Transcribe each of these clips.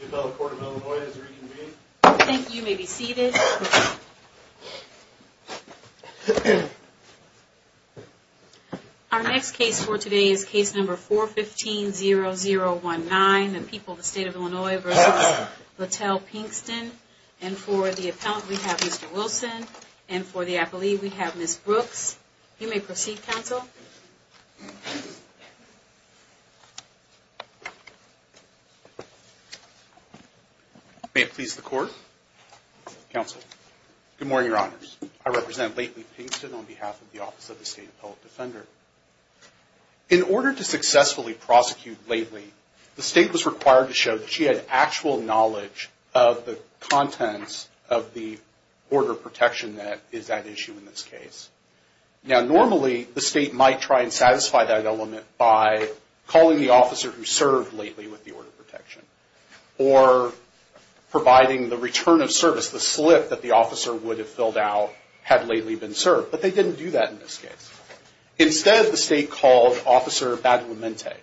The appellate court of Illinois is reconvened. Thank you. You may be seated. Our next case for today is case number 415-0019, The People of the State of Illinois v. Lattell Pinkston. And for the appellant, we have Mr. Wilson. And for the appellee, we have Ms. Brooks. You may proceed, counsel. May it please the court. Counsel. Good morning, Your Honors. I represent Lately Pinkston on behalf of the Office of the State Appellate Defender. In order to successfully prosecute Lately, the state was required to show that she had actual knowledge of the contents of the order of protection that is at issue in this case. Now normally, the state might try and satisfy that element by calling the officer who served Lately with the order of protection or providing the return of service, the slip that the officer would have filled out had Lately been served. But they didn't do that in this case. Instead, the state called Officer Badwimente.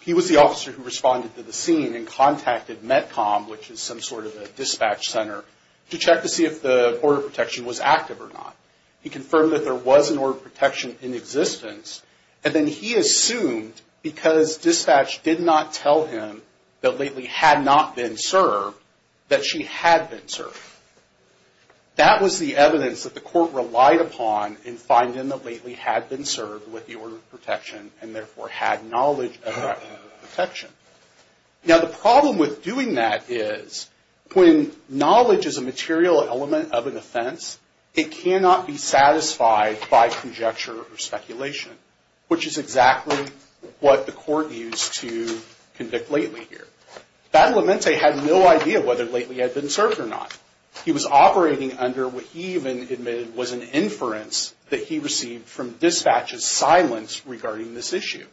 He was the officer who responded to the scene and contacted METCOM, which is some sort of a dispatch center, to check to see if the order of protection was active or not. He confirmed that there was an order of protection in existence, and then he assumed because dispatch did not tell him that Lately had not been served, that she had been served. That was the evidence that the court relied upon in finding that Lately had been served with the order of protection and therefore had knowledge of that order of protection. Now the problem with doing that is when knowledge is a material element of an offense, it cannot be satisfied by conjecture or speculation, which is exactly what the court used to convict Lately here. Badwimente had no idea whether Lately had been served or not. He was operating under what he even admitted was an inference that he received from dispatch's silence regarding this issue.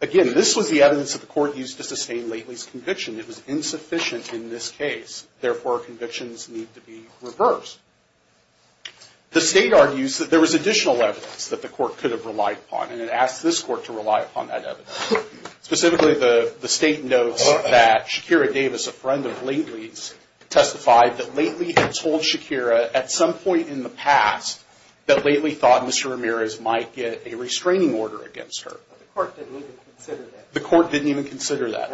Again, this was the evidence that the court used to sustain Lately's conviction. It was insufficient in this case. Therefore, convictions need to be reversed. The state argues that there was additional evidence that the court could have relied upon, and it asks this court to rely upon that evidence. Specifically, the state notes that Shakira Davis, a friend of Lately's, testified that Lately had told Shakira at some point in the past that Lately thought Mr. Ramirez might get a restraining order against her. But the court didn't even consider that. The court didn't even consider that.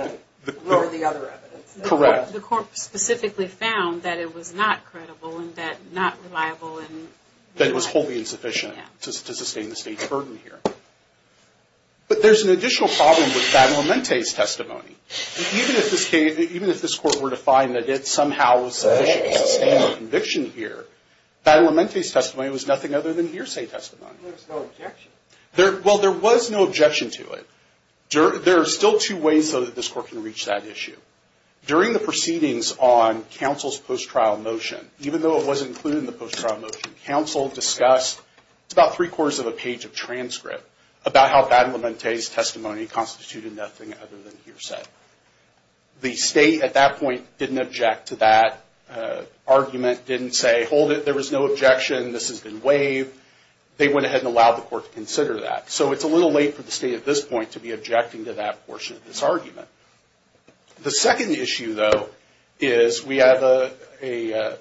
Or the other evidence. Correct. The court specifically found that it was not credible and not reliable. That it was wholly insufficient to sustain the state's burden here. But there's an additional problem with Badwimente's testimony. Even if this court were to find that it somehow was sufficient to sustain the conviction here, Badwimente's testimony was nothing other than hearsay testimony. There was no objection. Well, there was no objection to it. There are still two ways so that this court can reach that issue. During the proceedings on counsel's post-trial motion, even though it wasn't included in the post-trial motion, counsel discussed about three-quarters of a page of transcript about how Badwimente's testimony constituted nothing other than hearsay. The state at that point didn't object to that argument, didn't say, hold it, there was no objection, this has been waived. They went ahead and allowed the court to consider that. So it's a little late for the state at this point to be objecting to that portion of this argument. The second issue, though, is we have a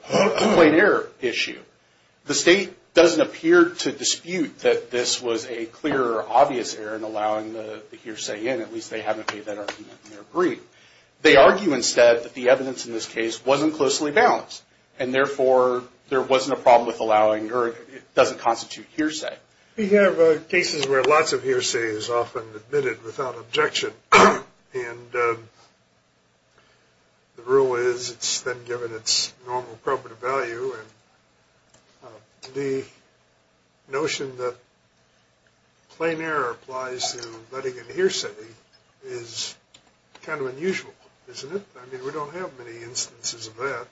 complaint error issue. The state doesn't appear to dispute that this was a clear or obvious error in allowing the hearsay in. At least they haven't made that argument in their brief. They argue instead that the evidence in this case wasn't closely balanced. And therefore, there wasn't a problem with allowing, or it doesn't constitute hearsay. We have cases where lots of hearsay is often admitted without objection. And the rule is it's then given its normal probative value. And the notion that plain error applies to letting in hearsay is kind of unusual, isn't it? I mean, we don't have many instances of that,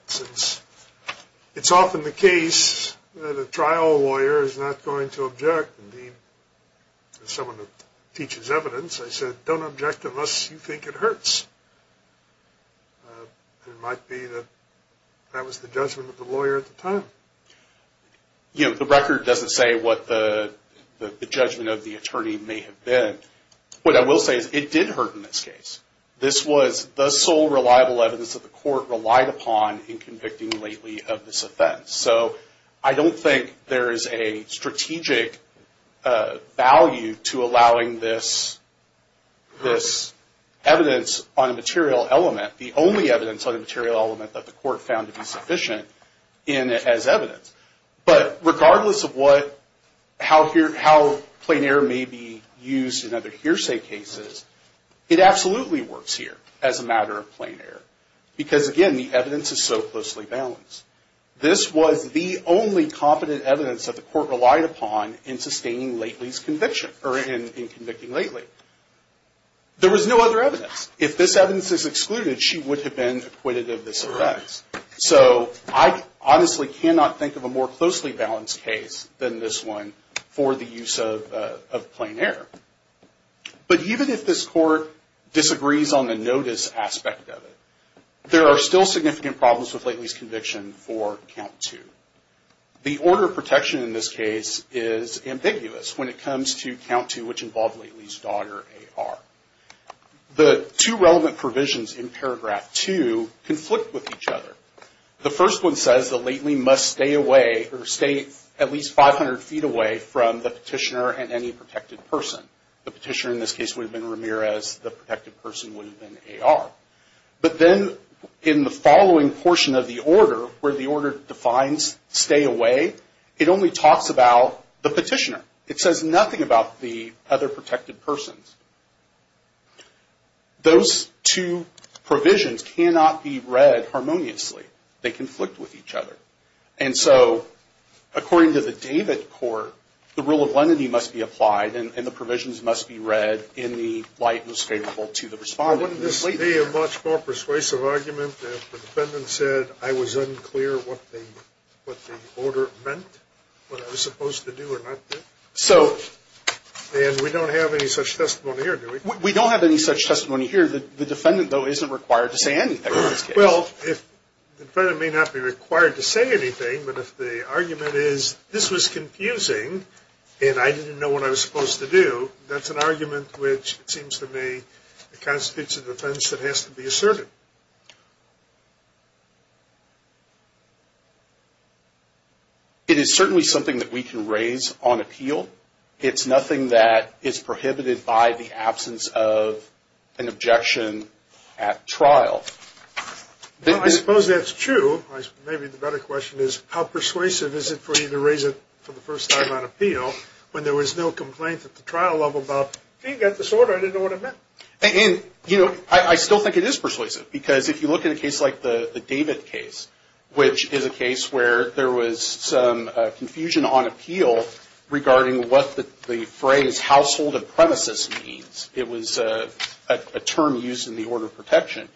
It's often the case that a trial lawyer is not going to object. As someone who teaches evidence, I said, don't object unless you think it hurts. It might be that that was the judgment of the lawyer at the time. You know, the record doesn't say what the judgment of the attorney may have been. What I will say is it did hurt in this case. This was the sole reliable evidence that the court relied upon in convicting Lately of this offense. So I don't think there is a strategic value to allowing this evidence on a material element, the only evidence on a material element that the court found to be sufficient as evidence. But regardless of how plain error may be used in other hearsay cases, it absolutely works here as a matter of plain error. Because again, the evidence is so closely balanced. This was the only competent evidence that the court relied upon in sustaining Lately's conviction, or in convicting Lately. There was no other evidence. If this evidence is excluded, she would have been acquitted of this offense. So I honestly cannot think of a more closely balanced case than this one for the use of plain error. But even if this court disagrees on the notice aspect of it, there are still significant problems with Lately's conviction for Count 2. The order of protection in this case is ambiguous when it comes to Count 2, which involved Lately's daughter, A.R. The two relevant provisions in paragraph 2 conflict with each other. The first one says that Lately must stay away, or stay at least 500 feet away, from the petitioner and any protected person. The petitioner in this case would have been Ramirez. The protected person would have been A.R. But then in the following portion of the order, where the order defines stay away, it only talks about the petitioner. It says nothing about the other protected persons. Those two provisions cannot be read harmoniously. They conflict with each other. And so, according to the David court, the rule of lenity must be applied and the provisions must be read in the light most favorable to the respondent. Wouldn't this be a much more persuasive argument if the defendant said, I was unclear what the order meant, what I was supposed to do or not do? And we don't have any such testimony here, do we? We don't have any such testimony here. The defendant, though, isn't required to say anything in this case. Well, the defendant may not be required to say anything, but if the argument is this was confusing and I didn't know what I was supposed to do, that's an argument which, it seems to me, constitutes a defense that has to be asserted. It is certainly something that we can raise on appeal. It's nothing that is prohibited by the absence of an objection at trial. Well, I suppose that's true. Maybe the better question is how persuasive is it for you to raise it for the first time on appeal when there was no complaint at the trial level about, if he got this order, I didn't know what it meant. And, you know, I still think it is persuasive because if you look at a case like the David case, which is a case where there was some confusion on appeal regarding what the phrase household of premises means. It was a term used in the order of protection.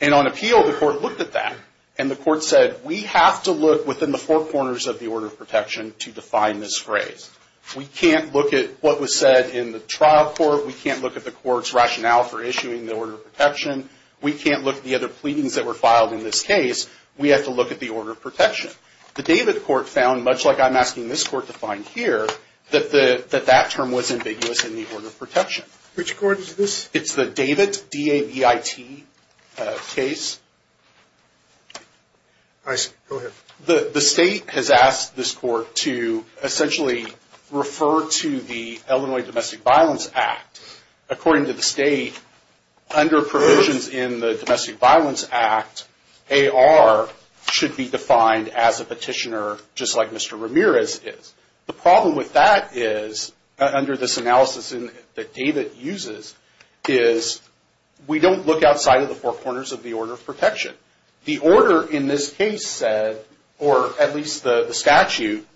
And on appeal, the court looked at that, and the court said, we have to look within the four corners of the order of protection to define this phrase. We can't look at what was said in the trial court. We can't look at the court's rationale for issuing the order of protection. We can't look at the other pleadings that were filed in this case. We have to look at the order of protection. The David court found, much like I'm asking this court to find here, that that term was ambiguous in the order of protection. Which court is this? It's the David, D-A-V-I-T, case. I see. Go ahead. The state has asked this court to essentially refer to the Illinois Domestic Violence Act. Because according to the state, under provisions in the Domestic Violence Act, AR should be defined as a petitioner just like Mr. Ramirez is. The problem with that is, under this analysis that David uses, is we don't look outside of the four corners of the order of protection. The order in this case said, or at least the statute,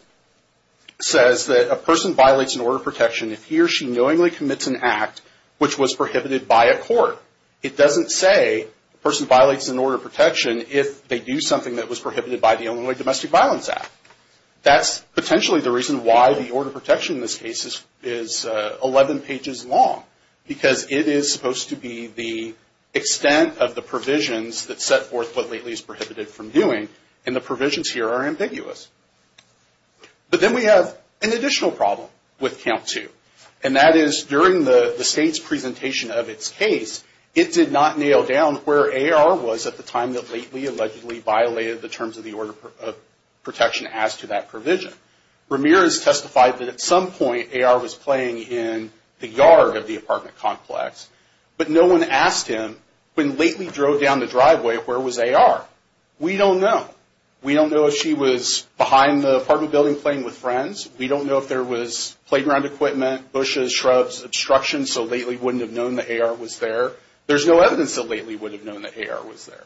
says that a person violates an order of protection if he or she knowingly commits an act which was prohibited by a court. It doesn't say a person violates an order of protection if they do something that was prohibited by the Illinois Domestic Violence Act. That's potentially the reason why the order of protection in this case is 11 pages long. Because it is supposed to be the extent of the provisions that set forth what lately is prohibited from doing. And the provisions here are ambiguous. But then we have an additional problem with count two. And that is, during the state's presentation of its case, it did not nail down where AR was at the time that Lately allegedly violated the terms of the order of protection as to that provision. Ramirez testified that at some point AR was playing in the yard of the apartment complex. But no one asked him, when Lately drove down the driveway, where was AR? We don't know. We don't know if she was behind the apartment building playing with friends. We don't know if there was playground equipment, bushes, shrubs, obstructions, so Lately wouldn't have known that AR was there. There's no evidence that Lately would have known that AR was there.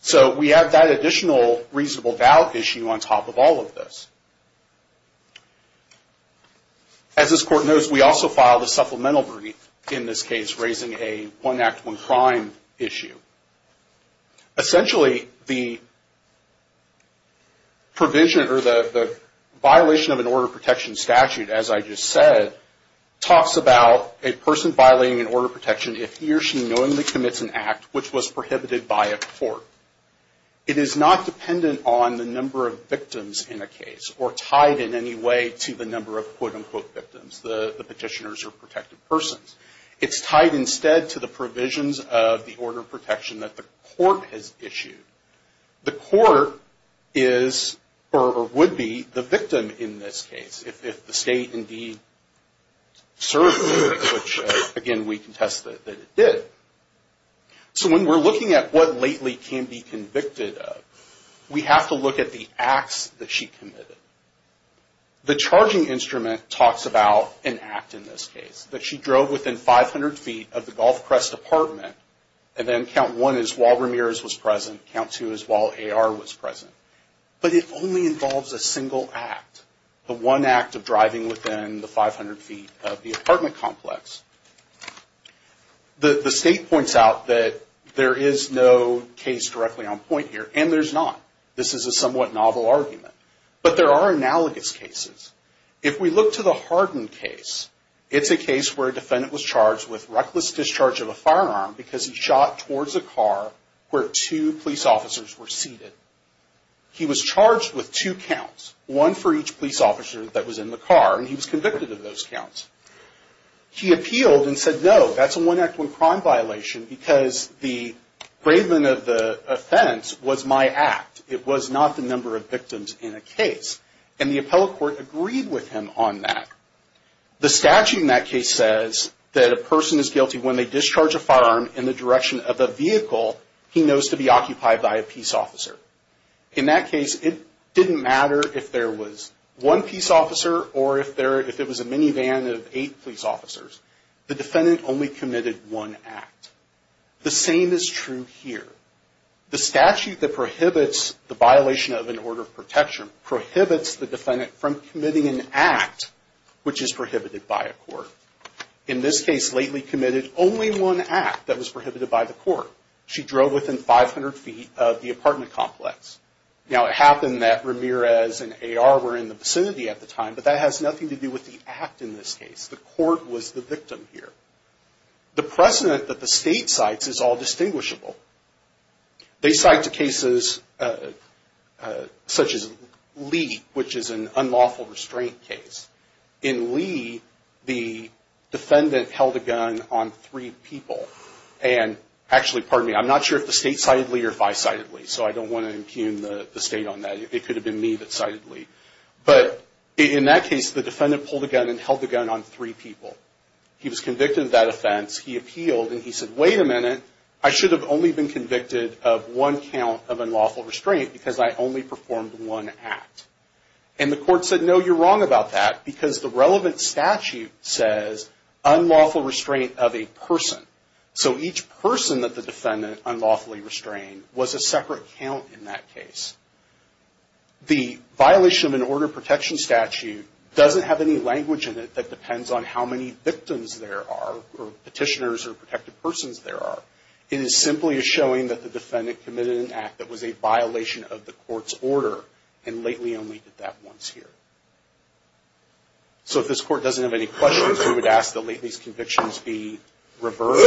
So we have that additional reasonable doubt issue on top of all of this. As this court knows, we also filed a supplemental verdict in this case, raising a one act, one crime issue. Essentially, the violation of an order of protection statute, as I just said, talks about a person violating an order of protection if he or she knowingly commits an act which was prohibited by a court. It is not dependent on the number of victims in a case, or tied in any way to the number of quote-unquote victims, the petitioners or protected persons. It's tied instead to the provisions of the order of protection that the court has issued. The court is, or would be, the victim in this case if the state indeed served the victim, which again, we contest that it did. So when we're looking at what Lately can be convicted of, we have to look at the acts that she committed. The charging instrument talks about an act in this case, that she drove within 500 feet of the Gulf Crest apartment, and then count one is while Ramirez was present, count two is while A.R. was present. But it only involves a single act, the one act of driving within the 500 feet of the apartment complex. The state points out that there is no case directly on point here, and there's not. This is a somewhat novel argument. But there are analogous cases. If we look to the Hardin case, it's a case where a defendant was charged with reckless discharge of a firearm because he shot towards a car where two police officers were seated. He was charged with two counts, one for each police officer that was in the car, and he was convicted of those counts. He appealed and said, no, that's a one act, one crime violation, because the bravement of the offense was my act. It was not the number of victims in a case. And the appellate court agreed with him on that. The statute in that case says that a person is guilty when they discharge a firearm in the direction of a vehicle he knows to be occupied by a peace officer. In that case, it didn't matter if there was one peace officer or if it was a minivan of eight police officers. The defendant only committed one act. The same is true here. The statute that prohibits the violation of an order of protection prohibits the defendant from committing an act which is prohibited by a court. In this case, Lately committed only one act that was prohibited by the court. She drove within 500 feet of the apartment complex. Now it happened that Ramirez and AR were in the vicinity at the time, but that has nothing to do with the act in this case. The court was the victim here. The precedent that the state cites is all distinguishable. They cite the cases such as Lee, which is an unlawful restraint case. In Lee, the defendant held a gun on three people. And actually, pardon me, I'm not sure if the state cited Lee or if I cited Lee, so I don't want to impugn the state on that. It could have been me that cited Lee. But in that case, the defendant pulled a gun and held the gun on three people. He was convicted of that offense. He appealed and he said, wait a minute. I should have only been convicted of one count of unlawful restraint because I only performed one act. And the court said, no, you're wrong about that because the relevant statute says unlawful restraint of a person. So each person that the defendant unlawfully restrained was a separate count in that case. The violation of an order of protection statute doesn't have any language in it that depends on how many victims there are or petitioners or anything like that. It is simply a showing that the defendant committed an act that was a violation of the court's order. And lately only did that once here. So if this court doesn't have any questions, we would ask that lately these convictions be reversed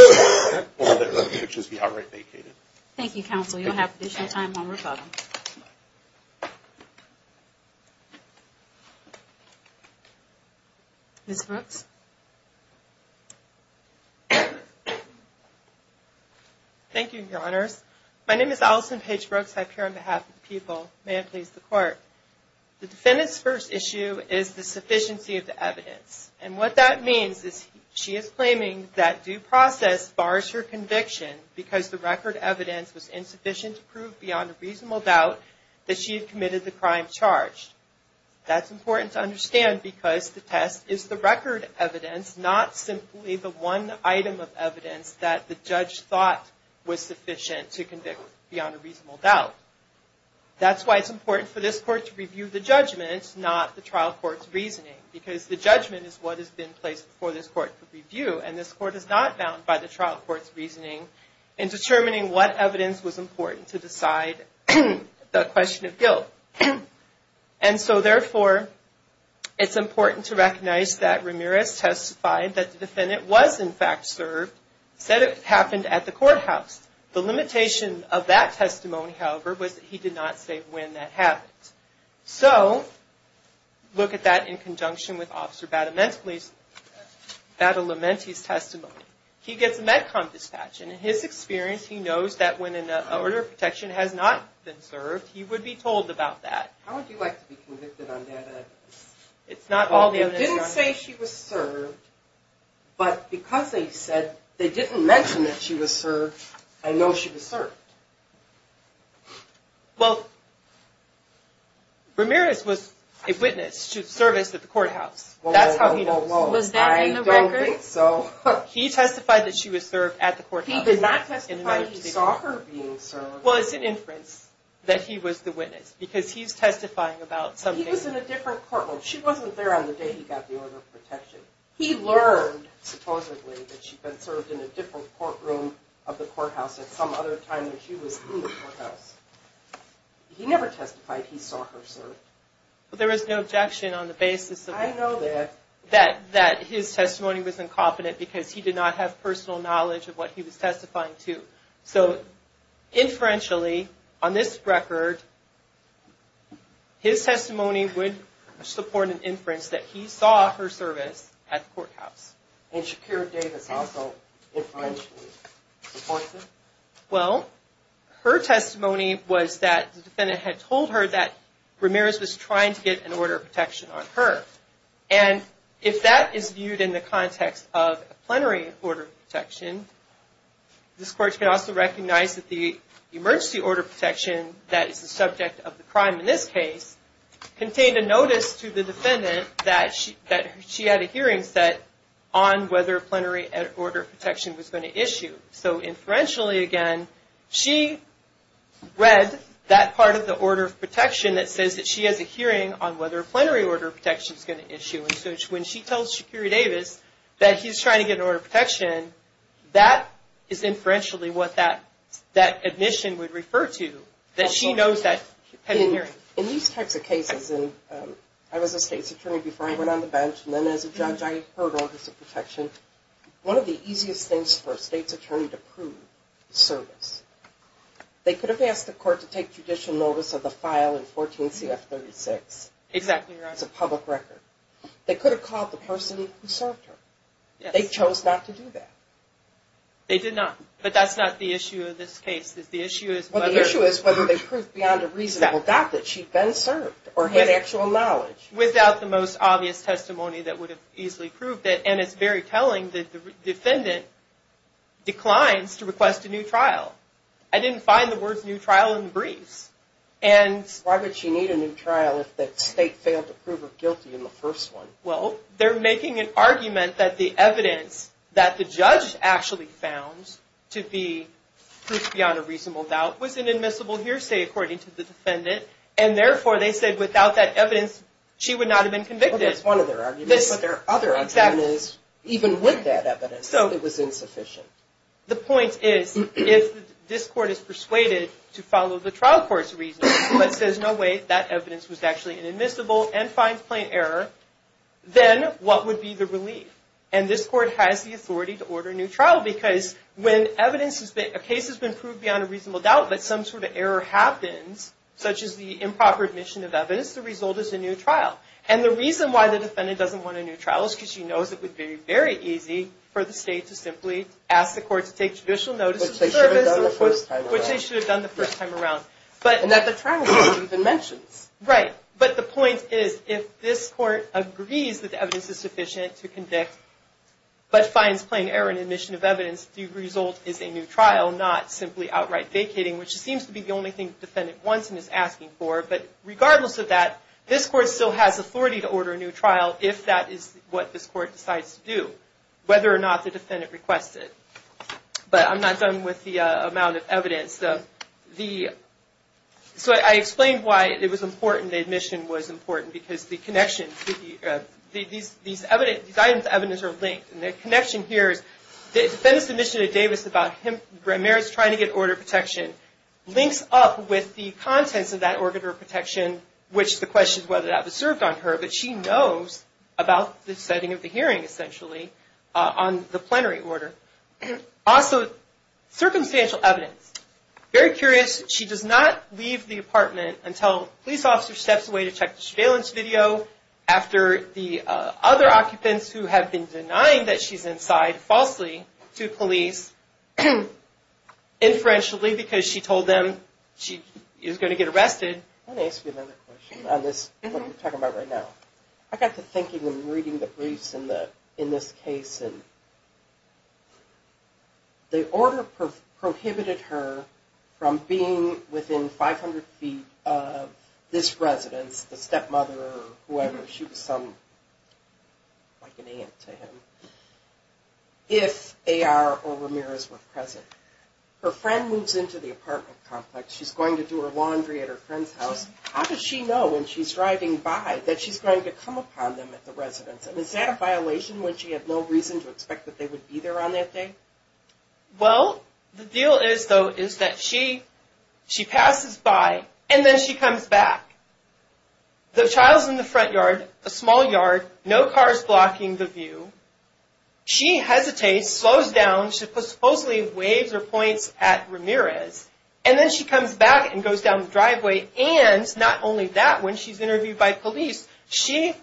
or that the convictions be outright vacated. Thank you, counsel. You'll have additional time on rebuttal. Ms. Brooks. Thank you, your honors. My name is Alison Paige Brooks. I appear on behalf of the people. May I please the court. The defendant's first issue is the sufficiency of the evidence. And what that means is she is claiming that due process bars her conviction because the record evidence was insufficient to prove beyond a reasonable doubt that she had committed the crime charged. That's important to understand because the test is the record evidence, not simply the one item of evidence that the judge thought was sufficient to convict beyond a reasonable doubt. That's why it's important for this court to review the judgment, not the trial court's reasoning. Because the judgment is what has been placed before this court for review. And this court is not bound by the trial court's reasoning in determining what evidence was important to decide the question of guilt. And so, therefore, it's important to recognize that Ramirez testified that the defendant was in fact served, said it happened at the courthouse. The limitation of that testimony, however, was that he did not say when that happened. So, look at that in conjunction with Officer Badalamenti's testimony. He gets a med-com dispatch, and in his experience, he knows that when an order of protection has not been served, he would be told about that. How would you like to be convicted on that evidence? It's not all the evidence. They didn't say she was served, but because they said, they didn't mention that she was served, I know she was served. Well, Ramirez was a witness to the service at the courthouse. That's how he knows. Was that in the record? I don't think so. He testified that she was served at the courthouse. He did not testify he saw her being served. Well, it's an inference that he was the witness, because he's testifying about something. He was in a different courtroom. She wasn't there on the day he got the order of protection. He learned, supposedly, that she had been served in a different courtroom of the courthouse at some other time than she was in the courthouse. He never testified he saw her served. But there was no objection on the basis of that. I know that. That his testimony was incompetent, because he did not have personal knowledge of what he was testifying to. So, inferentially, on this record, his testimony would support an inference that he saw her service at the courthouse. And Shakira Davis also inferentially supports it? Well, her testimony was that the defendant had told her that Ramirez was trying to get an order of protection on her. And if that is viewed in the context of a plenary order of protection, this court can also recognize that the emergency order of protection that is the subject of the crime in this case contained a notice to the defendant that she had a hearing set on whether a plenary order of protection was going to issue. So, inferentially, again, she read that part of the order of protection that says that she has a hearing set on whether a plenary order of protection was going to issue. And so, when she tells Shakira Davis that he's trying to get an order of protection, that is inferentially what that admission would refer to, that she knows that he had a hearing. In these types of cases, and I was a state's attorney before I went on the bench, and then as a judge, I heard orders of protection. One of the easiest things for a state's attorney to prove is service. They could have asked the court to take judicial notice of the file in 14 CF 36. Exactly right. That's a public record. They could have called the person who served her. They chose not to do that. They did not. But that's not the issue of this case. The issue is whether. The issue is whether they proved beyond a reasonable doubt that she'd been served or had actual knowledge. Without the most obvious testimony that would have easily proved it. And it's very telling that the defendant declines to request a new trial. I didn't find the words new trial in the briefs. Why would she need a new trial if the state failed to prove her guilty in the first one? Well, they're making an argument that the evidence that the judge actually found to be proved beyond a reasonable doubt was an admissible hearsay, according to the defendant. And therefore, they said without that evidence, she would not have been convicted. That's one of their arguments. But their other argument is, even with that evidence, it was insufficient. The point is, if this court is persuaded to follow the trial court's reasoning, but says, no, wait, that evidence was actually inadmissible and finds plain error, then what would be the relief? And this court has the authority to order a new trial. Because when evidence has been, a case has been proved beyond a reasonable doubt, but some sort of error happens, such as the improper admission of evidence, the result is a new trial. And the reason why the defendant doesn't want a new trial is because she knows it would be very easy for the state to simply ask the court to take judicial notice of service, which they should have done the first time around. And that the trial court even mentions. Right. But the point is, if this court agrees that the evidence is sufficient to convict, but finds plain error in admission of evidence, the result is a new trial, not simply outright vacating, which seems to be the only thing the defendant wants and is asking for. But regardless of that, this court still has authority to order a new trial, if that is what this court decides to do, whether or not the defendant requests it. But I'm not done with the amount of evidence. So I explained why it was important, the admission was important, because the connection, these items of evidence are linked. And the connection here is, the defendant's submission to Davis about Merritt's trying to get order protection links up with the contents of that order of protection, which the question is whether that was served on her, but she knows about the setting of the hearing, essentially, on the plenary order. Also, circumstantial evidence. Very curious, she does not leave the apartment until a police officer steps away to check the surveillance video after the other occupants who have been denying that she's inside, falsely, to police, inferentially, because she told them she was going to get arrested. Let me ask you another question on this, what we're talking about right now. I got to thinking and reading the briefs in this case, and the order prohibited her from being within 500 feet of this residence, the stepmother or whoever, she was some, like an aunt to him, if AR or Ramirez were present. Her friend moves into the apartment complex, she's going to do her laundry at her friend's house, how does she know when she's driving by that she's going to come upon them at the residence, and is that a violation when she had no reason to expect that they would be there on that day? Well, the deal is, though, is that she, she passes by, and then she comes back. The child's in the front yard, a small yard, no cars blocking the view. She hesitates, slows down, supposedly waves her points at Ramirez, and then she comes back and goes down the driveway, and not only that, when she's interviewed by police, she,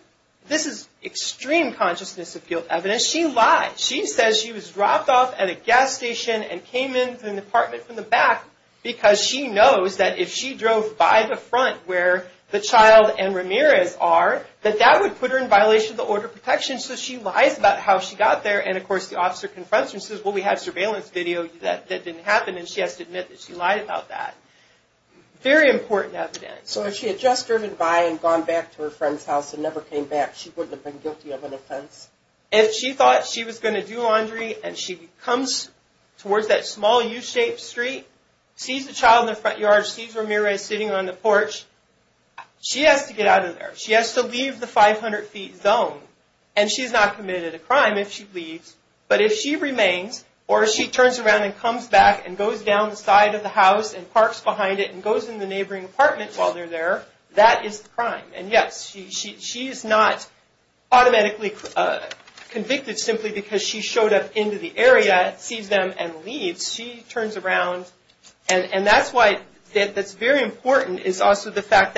this is extreme consciousness of guilt evidence, she lied. She says she was dropped off at a gas station and came into an apartment from the back, because she knows that if she drove by the front where the child and Ramirez are, that that would put her in violation of the order of protection, so she lies about how she got there, and of course the officer confronts her and says, well, we had surveillance video that didn't happen, and she has to admit that she lied about that. Very important evidence. So if she had just driven by and gone back to her friend's house and never came back, she wouldn't have been guilty of an offense? If she thought she was going to do laundry, and she comes towards that small U-shaped street, sees the child in the front yard, sees Ramirez sitting on the porch, she has to get out of there. She has to leave the 500 feet zone, and she's not committed a crime if she leaves, but if she remains, or if she turns around and comes back and goes down the side of the house and parks behind it and goes in the neighboring apartment while they're there, that is the crime. And yes, she is not automatically convicted simply because she showed up into the area, sees them, and leaves. She turns around, and that's why that's very important is also the fact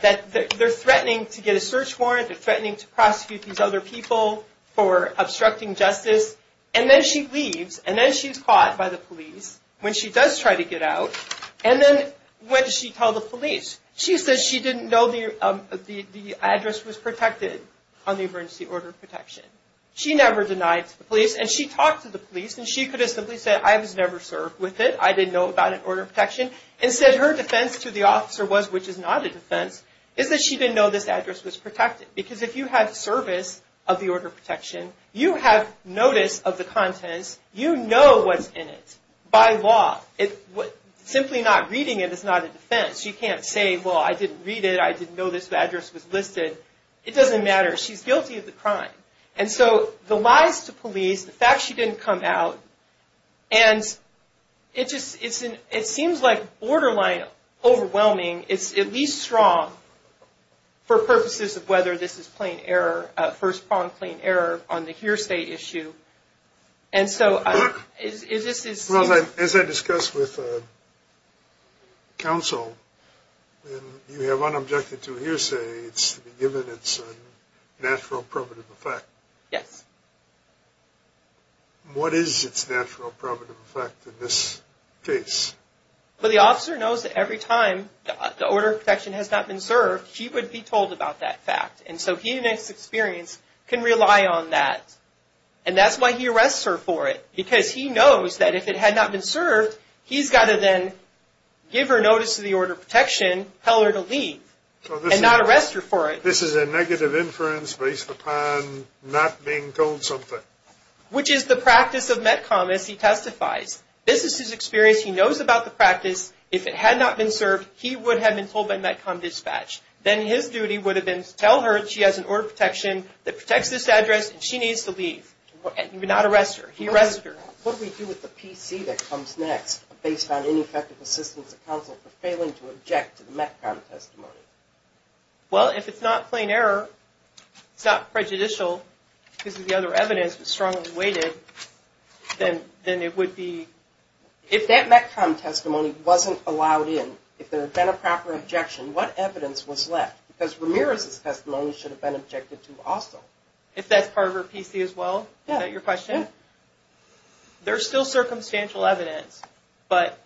that they're threatening to get a search warrant, they're threatening to prosecute these other people for obstructing justice, and then she leaves, and then she's caught by the police when she does try to get out, and then when she tells the police, she says she didn't know the address was protected on the emergency order protection. She never denied to the police, and she talked to the police, and she could have simply said, I was never served with it, I didn't know about an order of protection. Instead, her defense to the officer was, which is not a defense, is that she didn't know this address was protected, because if you have service of the order of protection, you have notice of the contents, you know what's in it by law. Simply not reading it is not a defense. You can't say, well, I didn't read it, I didn't know this address was listed. It doesn't matter. She's guilty of the crime, and so the lies to police, the fact she didn't come out, and it seems like borderline overwhelming. It's at least strong for purposes of whether this is plain error, on the hearsay issue, and so this is. As I discussed with counsel, you have unobjected to hearsay, it's to be given its natural, probative effect. Yes. What is its natural, probative effect in this case? Well, the officer knows that every time the order of protection has not been served, she would be told about that fact, and so he, in his experience, can rely on that, and that's why he arrests her for it, because he knows that if it had not been served, he's got to then give her notice of the order of protection, tell her to leave, and not arrest her for it. This is a negative inference based upon not being told something. Which is the practice of METCOM, as he testifies. This is his experience. He knows about the practice. If it had not been served, he would have been told by METCOM dispatch. Then his duty would have been to tell her she has an order of protection that protects this address, and she needs to leave, and not arrest her. He arrests her. What do we do with the PC that comes next, based on ineffective assistance of counsel for failing to object to the METCOM testimony? Well, if it's not plain error, it's not prejudicial, because of the other evidence, but strongly weighted, then it would be... If that METCOM testimony wasn't allowed in, if there had been a proper objection, what evidence was left? Because Ramirez's testimony should have been objected to also. If that's part of her PC as well? Yeah. Is that your question? Yeah. There's still circumstantial evidence, but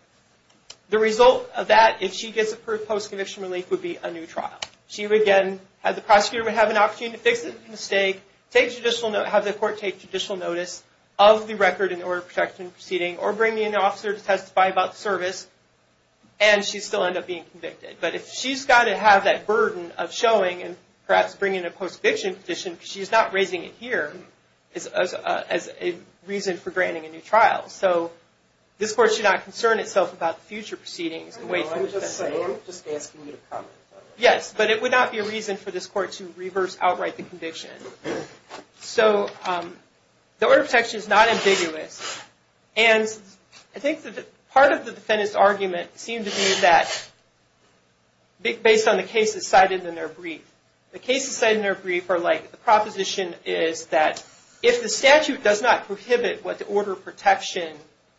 the result of that, if she gets approved post-conviction relief, would be a new trial. She would, again, have the prosecutor have an opportunity to fix the mistake, have the court take judicial notice of the record in the order of protection proceeding, or bring in an officer to testify about the service, and she'd still end up being convicted. But if she's got to have that burden of showing, and perhaps bringing a post-conviction petition, because she's not raising it here, as a reason for granting a new trial. So this court should not concern itself about future proceedings. I'm just asking you to comment on that. Yes, but it would not be a reason for this court to reverse outright the conviction. So the order of protection is not ambiguous, and I think that part of the defendant's argument seemed to be that based on the cases cited in their brief. The cases cited in their brief are like the proposition is that if the statute does not prohibit what the order of protection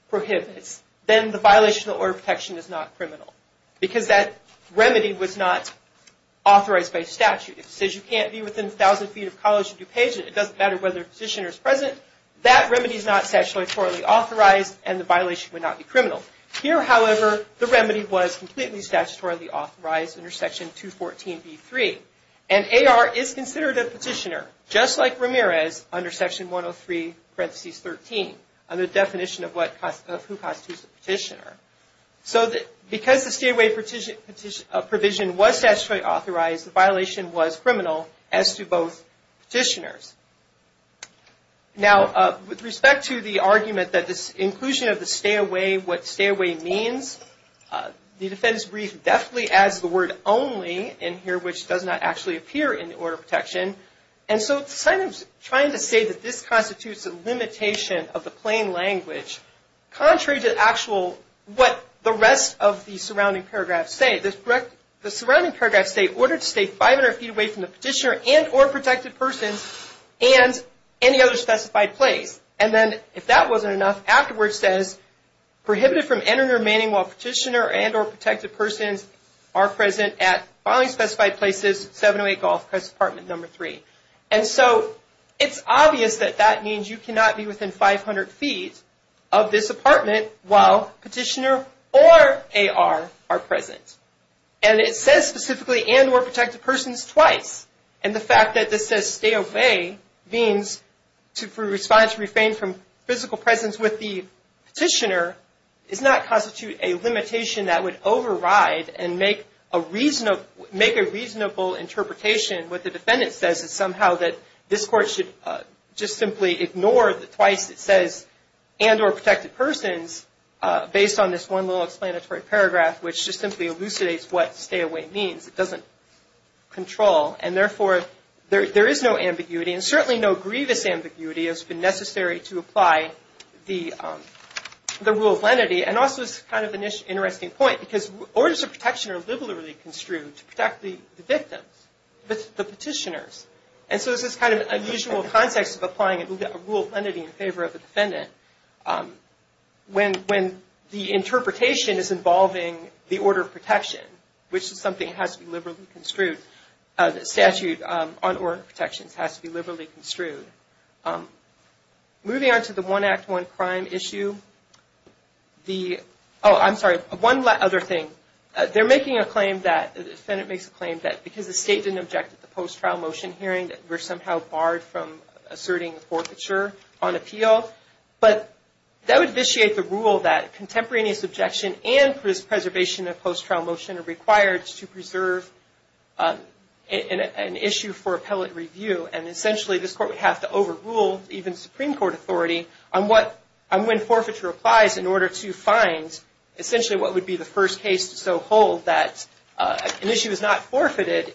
prohibits, then the violation of the order of protection is not criminal, because that remedy was not authorized by statute. It says you can't be within 1,000 feet of College of DuPage, and it doesn't matter whether the petitioner is present. That remedy is not statutorily authorized, and the violation would not be criminal. Here, however, the remedy was completely statutorily authorized under Section 214b-3, and A.R. is considered a petitioner, just like Ramirez under Section 103, parenthesis 13, under the definition of who constitutes a petitioner. So because the stay-away provision was statutorily authorized, the violation was criminal as to both petitioners. Now, with respect to the argument that this inclusion of the stay-away, what stay-away means, the defendant's brief definitely adds the word only in here, which does not actually appear in the order of protection. And so, trying to say that this constitutes a limitation of the plain language, contrary to actual what the rest of the surrounding paragraphs say, the surrounding paragraphs say, ordered to stay 500 feet away from the petitioner and or protected person and any other specified place. And then, if that wasn't enough, afterwards says, prohibited from entering or remaining while petitioner and or protected persons are present at following specified places, 708 Gulf Crest Apartment Number 3. And so, it's obvious that that means you cannot be within 500 feet of this apartment while petitioner or A.R. are present. And it says specifically, and or protected persons, twice. And the fact that this says stay-away means to respond, to refrain from physical presence with the petitioner, does not constitute a limitation that would override and make a reasonable interpretation. What the defendant says is somehow that this court should just simply ignore the twice it says, and or protected persons, based on this one little explanatory paragraph, which just simply elucidates what stay-away means. It doesn't control. And therefore, there is no ambiguity. And certainly, no grievous ambiguity has been necessary to apply the rule of lenity. And also, it's kind of an interesting point, because orders of protection are liberally construed to protect the victims, the petitioners. And so, this is kind of an unusual context of applying a rule of lenity in favor of the defendant. When the interpretation is involving the order of protection, which is something that has to be liberally construed. The statute on order of protection has to be liberally construed. Moving on to the one act, one crime issue. The, oh, I'm sorry. One other thing. They're making a claim that, the defendant makes a claim that because the state didn't object to the post-trial motion hearing, that we're somehow barred from asserting a forfeiture on appeal. But that would vitiate the rule that contemporaneous objection and contemporaneous preservation of post-trial motion are required to preserve an issue for appellate review. And essentially, this court would have to overrule even Supreme Court authority on what, on when forfeiture applies in order to find essentially what would be the first case to so hold that an issue is not forfeited,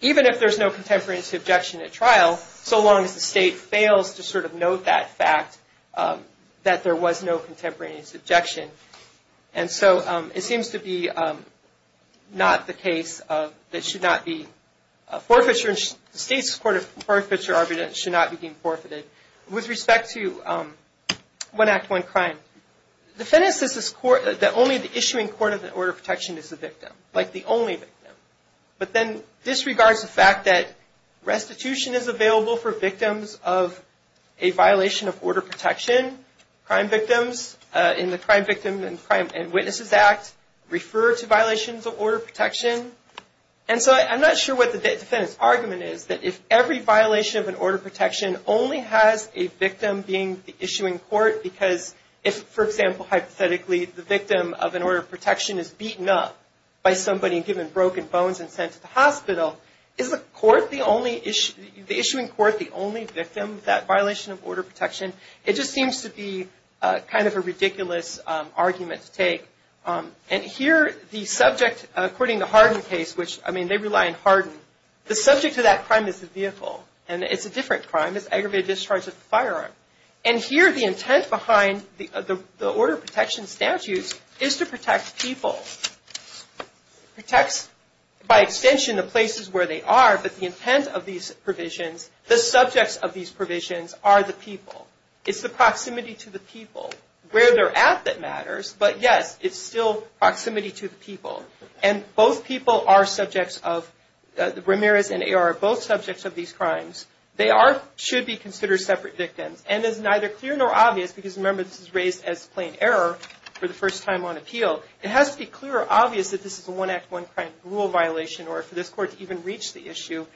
even if there's no contemporaneous objection at trial, so long as the state fails to sort of note that fact, that there was no contemporaneous objection. And so, it seems to be not the case of, that should not be, a forfeiture, the state's court of forfeiture argument should not be being forfeited. With respect to one act, one crime, the defendant says this court, that only the issuing court of order protection is the victim, like the only victim. But then, disregards the fact that restitution is available for victims of a violation of order protection. Crime victims, in the Crime Victims and Witnesses Act, refer to violations of order protection. And so, I'm not sure what the defendant's argument is, that if every violation of an order of protection only has a victim being the issuing court, because if, for example, hypothetically, the victim of an order of protection is beaten up by somebody and given broken bones and sent to the hospital, is the court the only issue, the issuing court the only victim of that violation of order of protection? It just seems to be kind of a ridiculous argument to take. And here, the subject, according to Harden's case, which, I mean, they rely on Harden, the subject of that crime is the vehicle. And it's a different crime. It's aggravated discharge of the firearm. And here, the intent behind the order of protection statutes is to protect people. It protects, by extension, the places where they are, but the intent of these provisions, the subjects of these provisions are the people. It's the proximity to the people, where they're at that matters. But, yes, it's still proximity to the people. And both people are subjects of, Ramirez and Ayer are both subjects of these crimes. They are, should be considered separate victims. And it's neither clear nor obvious, because, remember, this is raised as plain error for the first time on appeal. It has to be clear or obvious that this is a one act, one crime, rule violation, or for this court to even reach the issue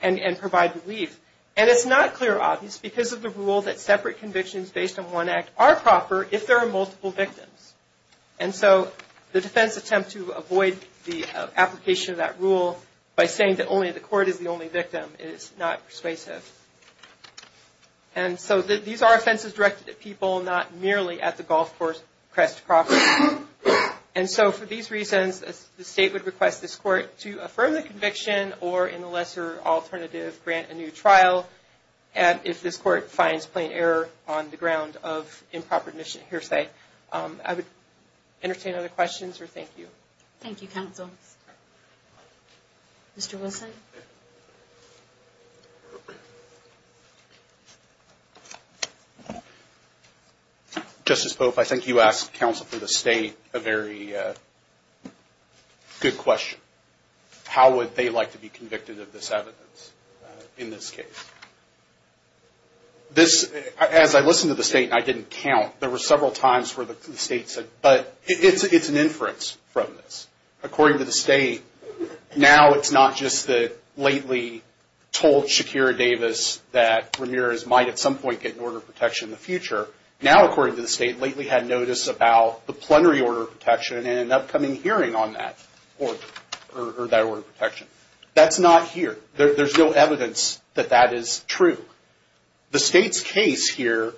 and provide relief. And it's not clear or obvious, because of the rule that separate convictions based on one act are proper, if there are multiple victims. And so, the defense attempt to avoid the application of that rule, by saying that only the court is the only victim, is not persuasive. And so, these are offenses directed at people, not merely at the golf course crest property. And so, for these reasons, the state would request this court to affirm the conviction, or in a lesser alternative, grant a new trial. And if this court finds plain error on the ground of improper admission, hearsay. I would entertain other questions, or thank you. Thank you, counsel. Mr. Wilson? Justice Pope, I think you asked counsel for the state a very good question. How would they like to be convicted of this evidence in this case? As I listened to the state, and I didn't count, there were several times where the state said, but it's an inference from this. According to the state, now it's not just that lately told Shakira Davis that Ramirez might, at some point, get an order of protection in the future. Now, according to the state, lately had notice about the plenary order of protection and an upcoming hearing on that order, or that order of protection. That's not here. There's no evidence that that is true. The state's case here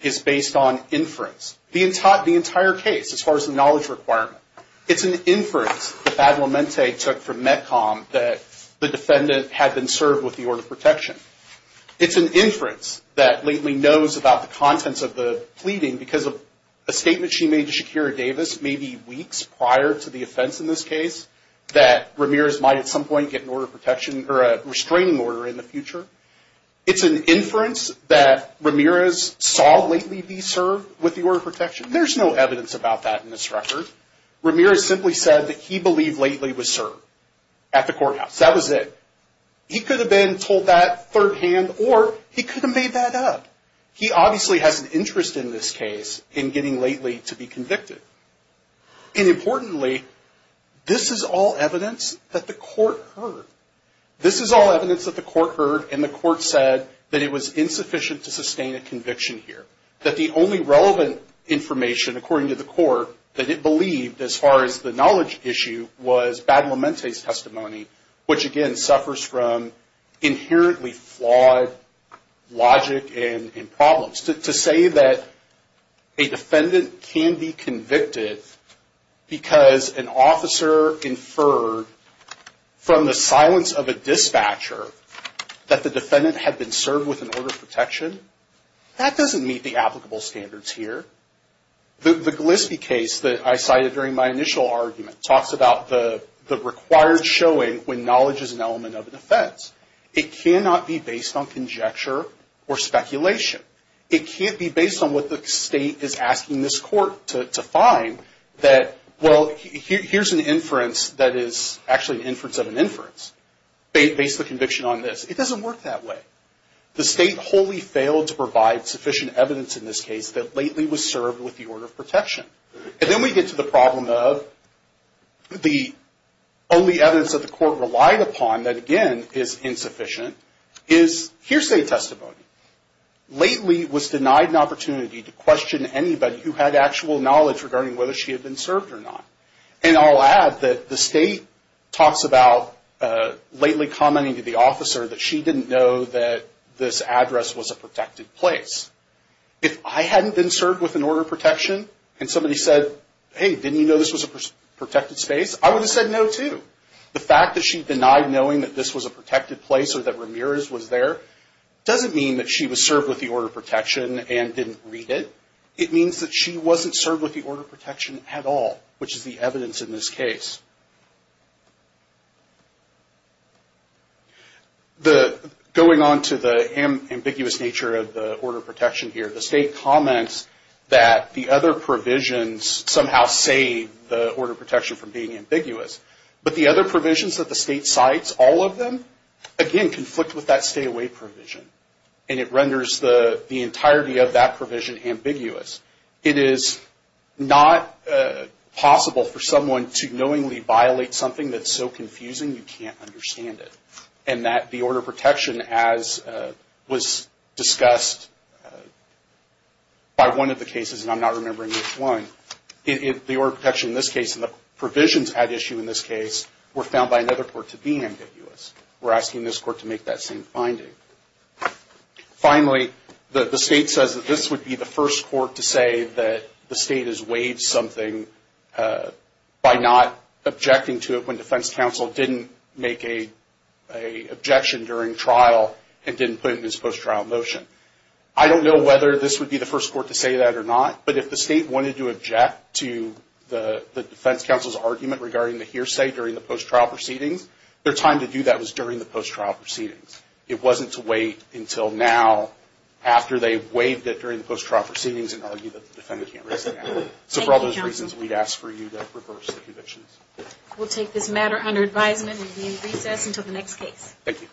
is based on inference. The entire case, as far as the knowledge requirement, it's an inference that Badlamente took from Metcom that the defendant had been served with the order of protection. It's an inference that lately knows about the contents of the pleading because of a statement she made to Shakira Davis, maybe weeks prior to the offense in this case, that Ramirez might, at some point, get an order of protection or a restraining order in the future. It's an inference that Ramirez saw lately be served with the order of protection. There's no evidence about that in this record. Ramirez simply said that he believed lately was served at the courthouse. That was it. He could have been told that third hand, or he could have made that up. He obviously has an interest in this case, in getting lately to be convicted. And importantly, this is all evidence that the court heard. This is all evidence that the court heard and the court said that it was insufficient to sustain a conviction here. That the only relevant information, that it believed as far as the knowledge issue was Badlamente's testimony, which again, suffers from inherently flawed logic and problems. To say that a defendant can be convicted because an officer inferred from the silence of a dispatcher that the defendant had been served with an order of protection, that doesn't meet the applicable standards here. The Gillespie case that I cited during my initial argument talks about the required showing when knowledge is an element of a defense. It cannot be based on conjecture or speculation. It can't be based on what the state is asking this court to find that, well, here's an inference that is actually an inference of an inference. Based the conviction on this. It doesn't work that way. The state wholly failed to provide sufficient evidence in this case that lately was served with the order of protection. And then we get to the problem of the only evidence that the court relied upon, that again is insufficient, is hearsay testimony. Lately was denied an opportunity to question anybody who had actual knowledge regarding whether she had been served or not. And I'll add that the state talks about lately commenting to the officer that she didn't know that this address was a protected place. If I hadn't been served with an order of protection and somebody said, hey, didn't you know this was a protected space? I would have said no too. The fact that she denied knowing that this was a protected place or that Ramirez was there doesn't mean that she was served with the order of protection and didn't read it. It means that she wasn't served with the order of protection at all, which is the evidence in this case. Going on to the ambiguous nature of the order of protection here, the state comments that the other provisions somehow save the order of protection from being ambiguous. But the other provisions that the state cites, all of them, again conflict with that stay away provision. And it renders the entirety of that provision ambiguous. It is not possible for someone to knowingly violate something that's so confusing you can't understand it. And that the order of protection, as was discussed by one of the cases, and I'm not remembering which one, the order of protection in this case and the provisions at issue in this case were found by another court to be ambiguous. We're asking this court to make that same finding. Finally, the state says that this would be the first court to say that the state has waived something by not objecting to it when defense counsel didn't make an objection during trial and didn't put in this post-trial motion. I don't know whether this would be the first court to say that or not, but if the state wanted to object to the defense counsel's argument regarding the hearsay during the post-trial proceedings, their time to do that was during the post-trial proceedings. It wasn't to wait until now after they waived it during the post-trial proceedings and argue that the defendant can't raise it now. So for all those reasons, we'd ask for you to reverse the conditions. We'll take this matter under advisement and we'll be in recess until the next case. Thank you.